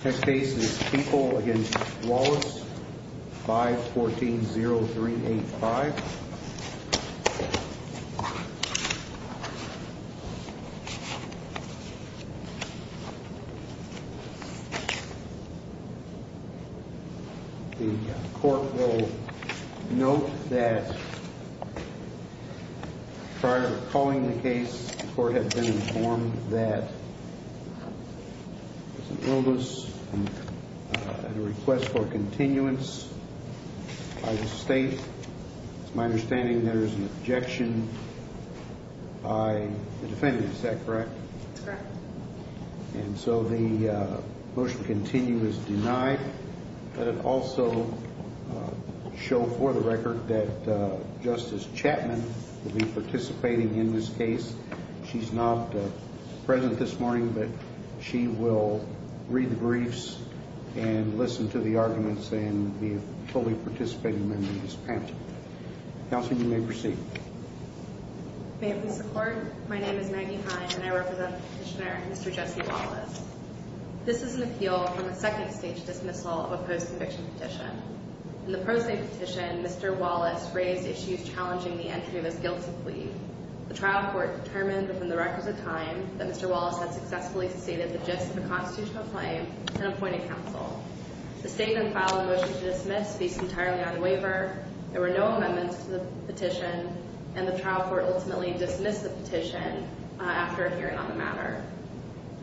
v 140385. The court will note that prior to calling the case, the court had been informed that there's an illness, and a request for continuance by the state. It's my understanding there's an objection by the defendant, is that correct? That's correct. And so the motion to continue is denied. Let it also show for the record that Justice Chapman will be participating in this case. She's not present this morning, but she will read the briefs and listen to the arguments and be fully participating in this panel. Counsel, you may proceed. May it please the Court, my name is Maggie Hine, and I represent Petitioner Mr. Jesse Wallace. This is an appeal from a second stage dismissal of a post-conviction petition. In the post-nate petition, Mr. Wallace raised issues challenging the entry of his guilty plea. The trial court determined within the records of time that Mr. Wallace had successfully stated the gist of the constitutional claim and appointed counsel. The statement filed in the motion to dismiss based entirely on the waiver, there were no amendments to the petition, and the trial court ultimately dismissed the petition after a hearing on the matter.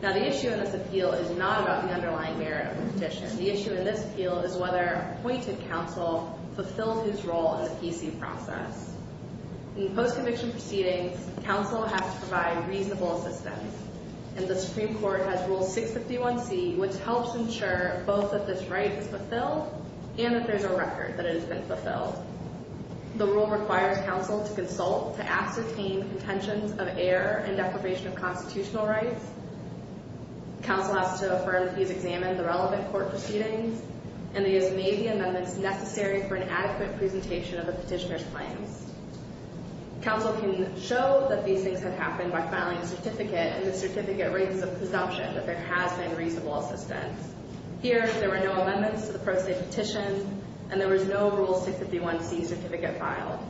Now the issue in this appeal is not about the underlying merit of the petition. The issue in this appeal is whether appointed counsel fulfilled his role in the PC process. In post-conviction proceedings, counsel has to provide reasonable assistance, and the Supreme Court has Rule 651C, which helps ensure both that this right is fulfilled and that there's a record that it has been fulfilled. The rule requires counsel to consult to ascertain contentions of error and deprivation of constitutional rights. Counsel has to affirm that he has examined the relevant court proceedings, and that he has made the amendments necessary for an adequate presentation of the petitioner's claims. Counsel can show that these things have happened by filing a certificate, and the certificate raises the presumption that there has been reasonable assistance. Here, there were no amendments to the post-nate petition, and there was no Rule 651C certificate filed.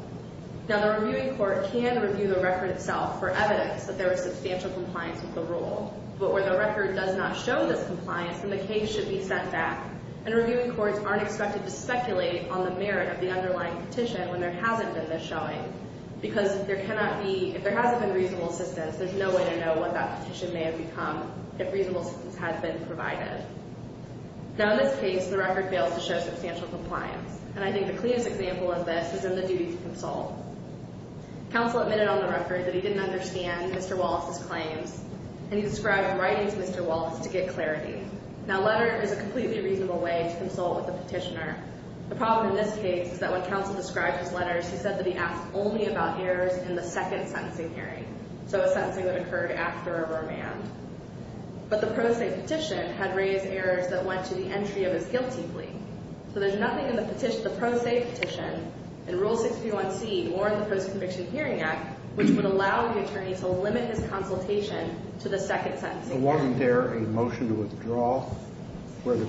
Now the reviewing court can review the record itself for evidence that there was substantial compliance with the rule, but where the record does not show this compliance, then the case should be sent back, and reviewing courts aren't expected to speculate on the merit of the underlying petition when there hasn't been this showing, because if there hasn't been reasonable assistance, there's no way to know what that petition may have become if reasonable assistance had been provided. Now in this case, the record fails to show substantial compliance, and I think the clearest example of this is in the duty to consult. Counsel admitted on the record that he didn't understand Mr. Wallace's claims, and he described writing to Mr. Wallace to get clarity. Now a letter is a completely reasonable way to consult with a petitioner. The problem in this case is that when Counsel described his letters, he said that he asked only about errors in the second sentencing hearing, so a sentencing that occurred after a romand. But the post-nate petition had raised errors that went to the entry of his guilty plea, so there's nothing in the post-nate petition in Rule 631C or in the Post-Conviction Hearing Act which would allow the attorney to limit his consultation to the second sentencing hearing. Wasn't there a motion to withdraw where the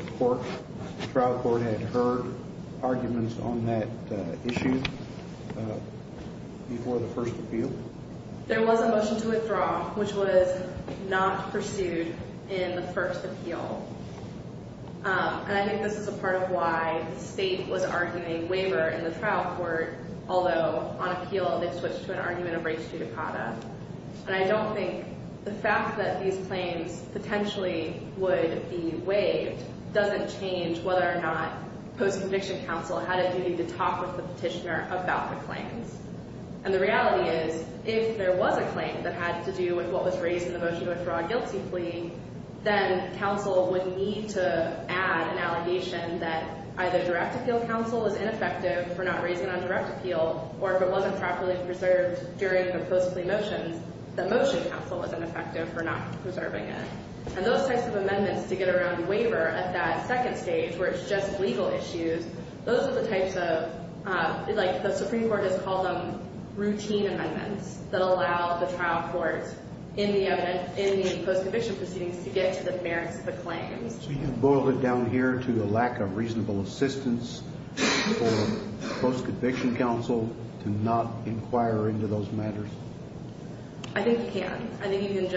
trial court had heard arguments on that issue before the first appeal? There was a motion to withdraw, which was not pursued in the first appeal. And I think this is a part of why the state was arguing a waiver in the trial court, although on appeal they switched to an argument of restitutacata. And I don't think the fact that these claims potentially would be waived doesn't change whether or not post-conviction counsel had a duty to talk with the petitioner about the claims. And the reality is, if there was a claim that had to do with what was raised in the motion to withdraw a guilty plea, then counsel would need to add an allegation that either direct appeal counsel was ineffective for not raising it on direct appeal, or if it wasn't properly preserved during the post-plea motions, that motion counsel was ineffective for not preserving it. And those types of amendments to get around the waiver at that second stage where it's just legal issues, those are the types of, like the Supreme Court has called them routine amendments that allow the trial court in the post-conviction proceedings to get to the merits of the claims. So you can boil it down here to the lack of reasonable assistance for post-conviction counsel to not inquire into those matters? I think you can. I think you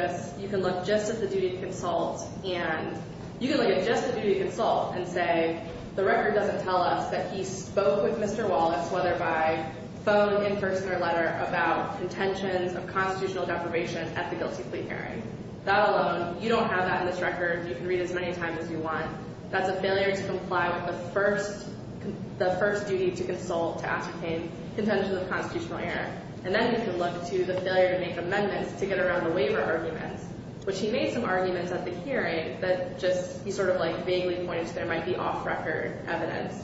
can look just at the duty to consult and say, the record doesn't tell us that he spoke with Mr. Wallace, whether by phone, in person, or letter, about contentions of constitutional deprivation at the guilty plea hearing. That alone, you don't have that in this record. You can read it as many times as you want. That's a failure to comply with the first duty to consult to ascertain contentions of constitutional error. And then you can look to the failure to make amendments to get around the waiver arguments, which he made some arguments at the hearing that just he sort of like vaguely pointed to there might be off-record evidence.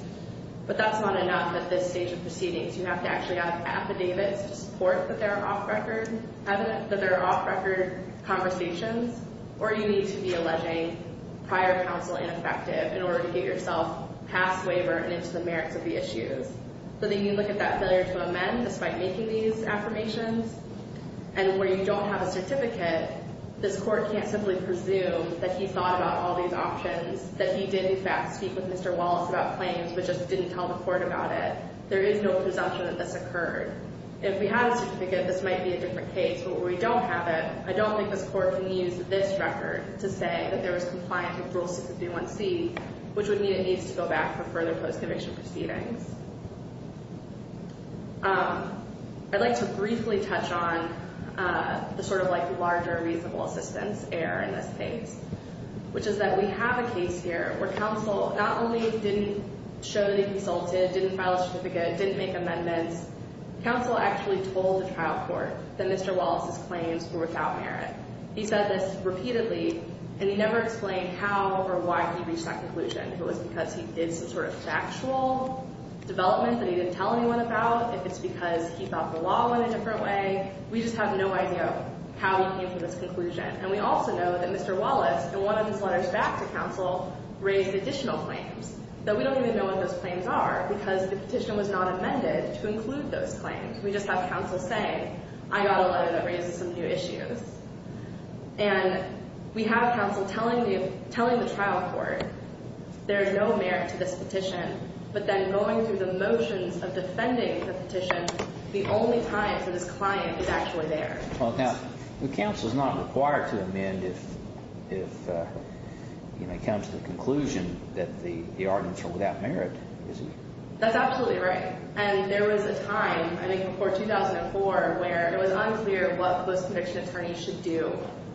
But that's not enough at this stage of proceedings. You have to actually have affidavits to support that there are off-record conversations, or you need to be alleging prior counsel ineffective in order to get yourself past waiver and into the merits of the issues. So then you look at that failure to amend despite making these affirmations, and where you don't have a certificate, this court can't simply presume that he thought about all these options, that he did, in fact, speak with Mr. Wallace about claims, but just didn't tell the court about it. There is no presumption that this occurred. If we had a certificate, this might be a different case. But where we don't have it, I don't think this court can use this record to say that there was compliance with Rule 651C, which would mean it needs to go back for further post-conviction proceedings. I'd like to briefly touch on the sort of like larger reasonable assistance error in this case, which is that we have a case here where counsel not only didn't show that he consulted, didn't file a certificate, didn't make amendments, counsel actually told the trial court that Mr. Wallace's claims were without merit. He said this repeatedly, and he never explained how or why he reached that conclusion. If it was because he did some sort of factual development that he didn't tell anyone about, if it's because he thought the law went a different way, we just have no idea how he came to this conclusion. And we also know that Mr. Wallace, in one of his letters back to counsel, raised additional claims, though we don't even know what those claims are because the petition was not amended to include those claims. We just have counsel saying, I got a letter that raises some new issues. And we have counsel telling the trial court there is no merit to this petition, but then going through the motions of defending the petition, the only time for this client is actually there. Well, counsel is not required to amend if it comes to the conclusion that the arguments are without merit, is he? That's absolutely right. And there was a time, I think before 2004, where it was unclear what post-conviction attorneys should do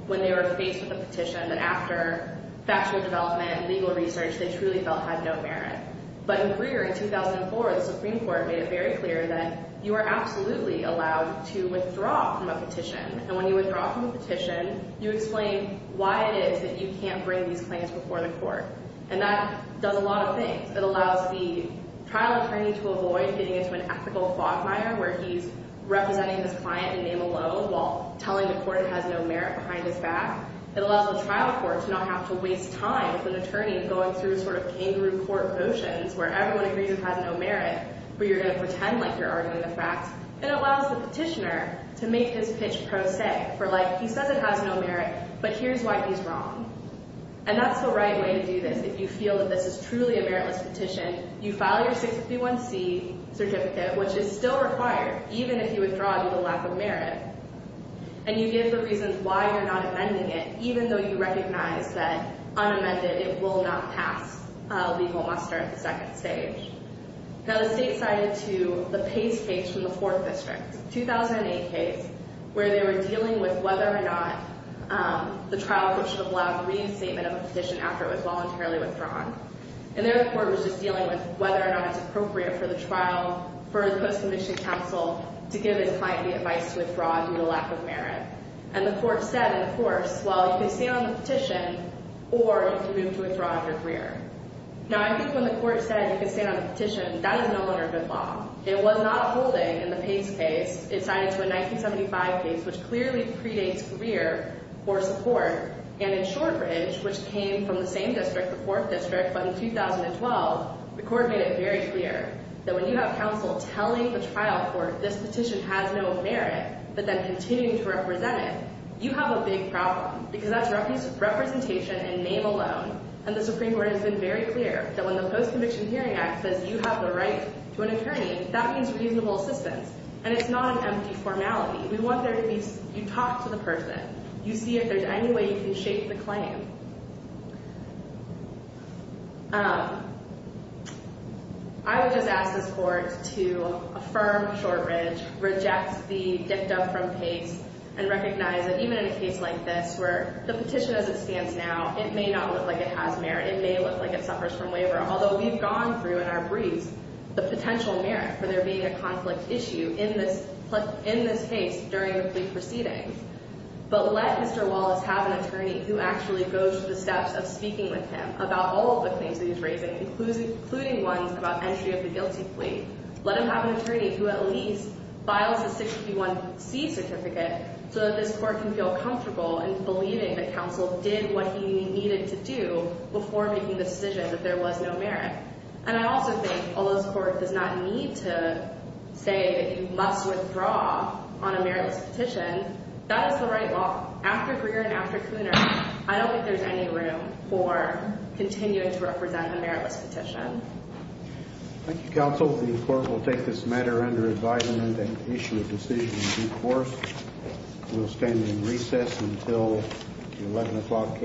when they were faced with a petition that after factual development and legal research they truly felt had no merit. But in Greer, in 2004, the Supreme Court made it very clear that you are absolutely allowed to withdraw from a petition. And when you withdraw from a petition, you explain why it is that you can't bring these claims before the court. And that does a lot of things. It allows the trial attorney to avoid getting into an ethical fog fire where he's representing his client in name alone while telling the court it has no merit behind his back. It allows the trial court to not have to waste time with an attorney going through sort of kangaroo court motions where everyone agrees it has no merit, where you're going to pretend like you're arguing the facts. It allows the petitioner to make his pitch pro se, for like, he says it has no merit, but here's why he's wrong. And that's the right way to do this. If you feel that this is truly a meritless petition, you file your 651C certificate, which is still required, even if you withdraw due to lack of merit. And you give the reasons why you're not amending it, even though you recognize that unamended, it will not pass legal muster at the second stage. Now, the state cited to the Pace case from the Fourth District, 2008 case, where they were dealing with whether or not the trial court should have allowed re-instatement of the petition after it was voluntarily withdrawn. And there the court was just dealing with whether or not it's appropriate for the trial, for the post-submission counsel to give his client the advice to withdraw due to lack of merit. And the court said in the course, well, you can stand on the petition or you can move to withdraw under Greer. Now, I think when the court said you could stand on the petition, that is no longer good law. It was not holding in the Pace case. It cited to a 1975 case, which clearly predates Greer for support. And in Short Ridge, which came from the same district, the Fourth District, but in 2012, the court made it very clear that when you have counsel telling the trial court this petition has no merit, but then continuing to represent it, you have a big problem, because that's representation in name alone. And the Supreme Court has been very clear that when the Post-Conviction Hearing Act says you have the right to an attorney, that means reasonable assistance. And it's not an empty formality. We want there to be, you talk to the person. You see if there's any way you can shape the claim. I would just ask this court to affirm Short Ridge, reject the dicta from Pace, and recognize that even in a case like this, where the petition has a stance now, it may not look like it has merit. It may look like it suffers from waiver, although we've gone through in our briefs the potential merit for there being a conflict issue in this case during the plea proceedings. But let Mr. Wallace have an attorney who actually goes to the steps of speaking with him about all of the claims that he's raising, including ones about entry of the guilty plea. Let him have an attorney who at least files a 631C certificate, so that this court can feel comfortable in believing that counsel did what he needed to do before making the decision that there was no merit. And I also think, although this court does not need to say that you must withdraw on a meritless petition, that is the right law. After Greer and after Cooner, I don't think there's any room for continuing to represent a meritless petition. Thank you, counsel. The court will take this matter under advisement and issue a decision in due course. We'll stand in recess until the 11 o'clock case.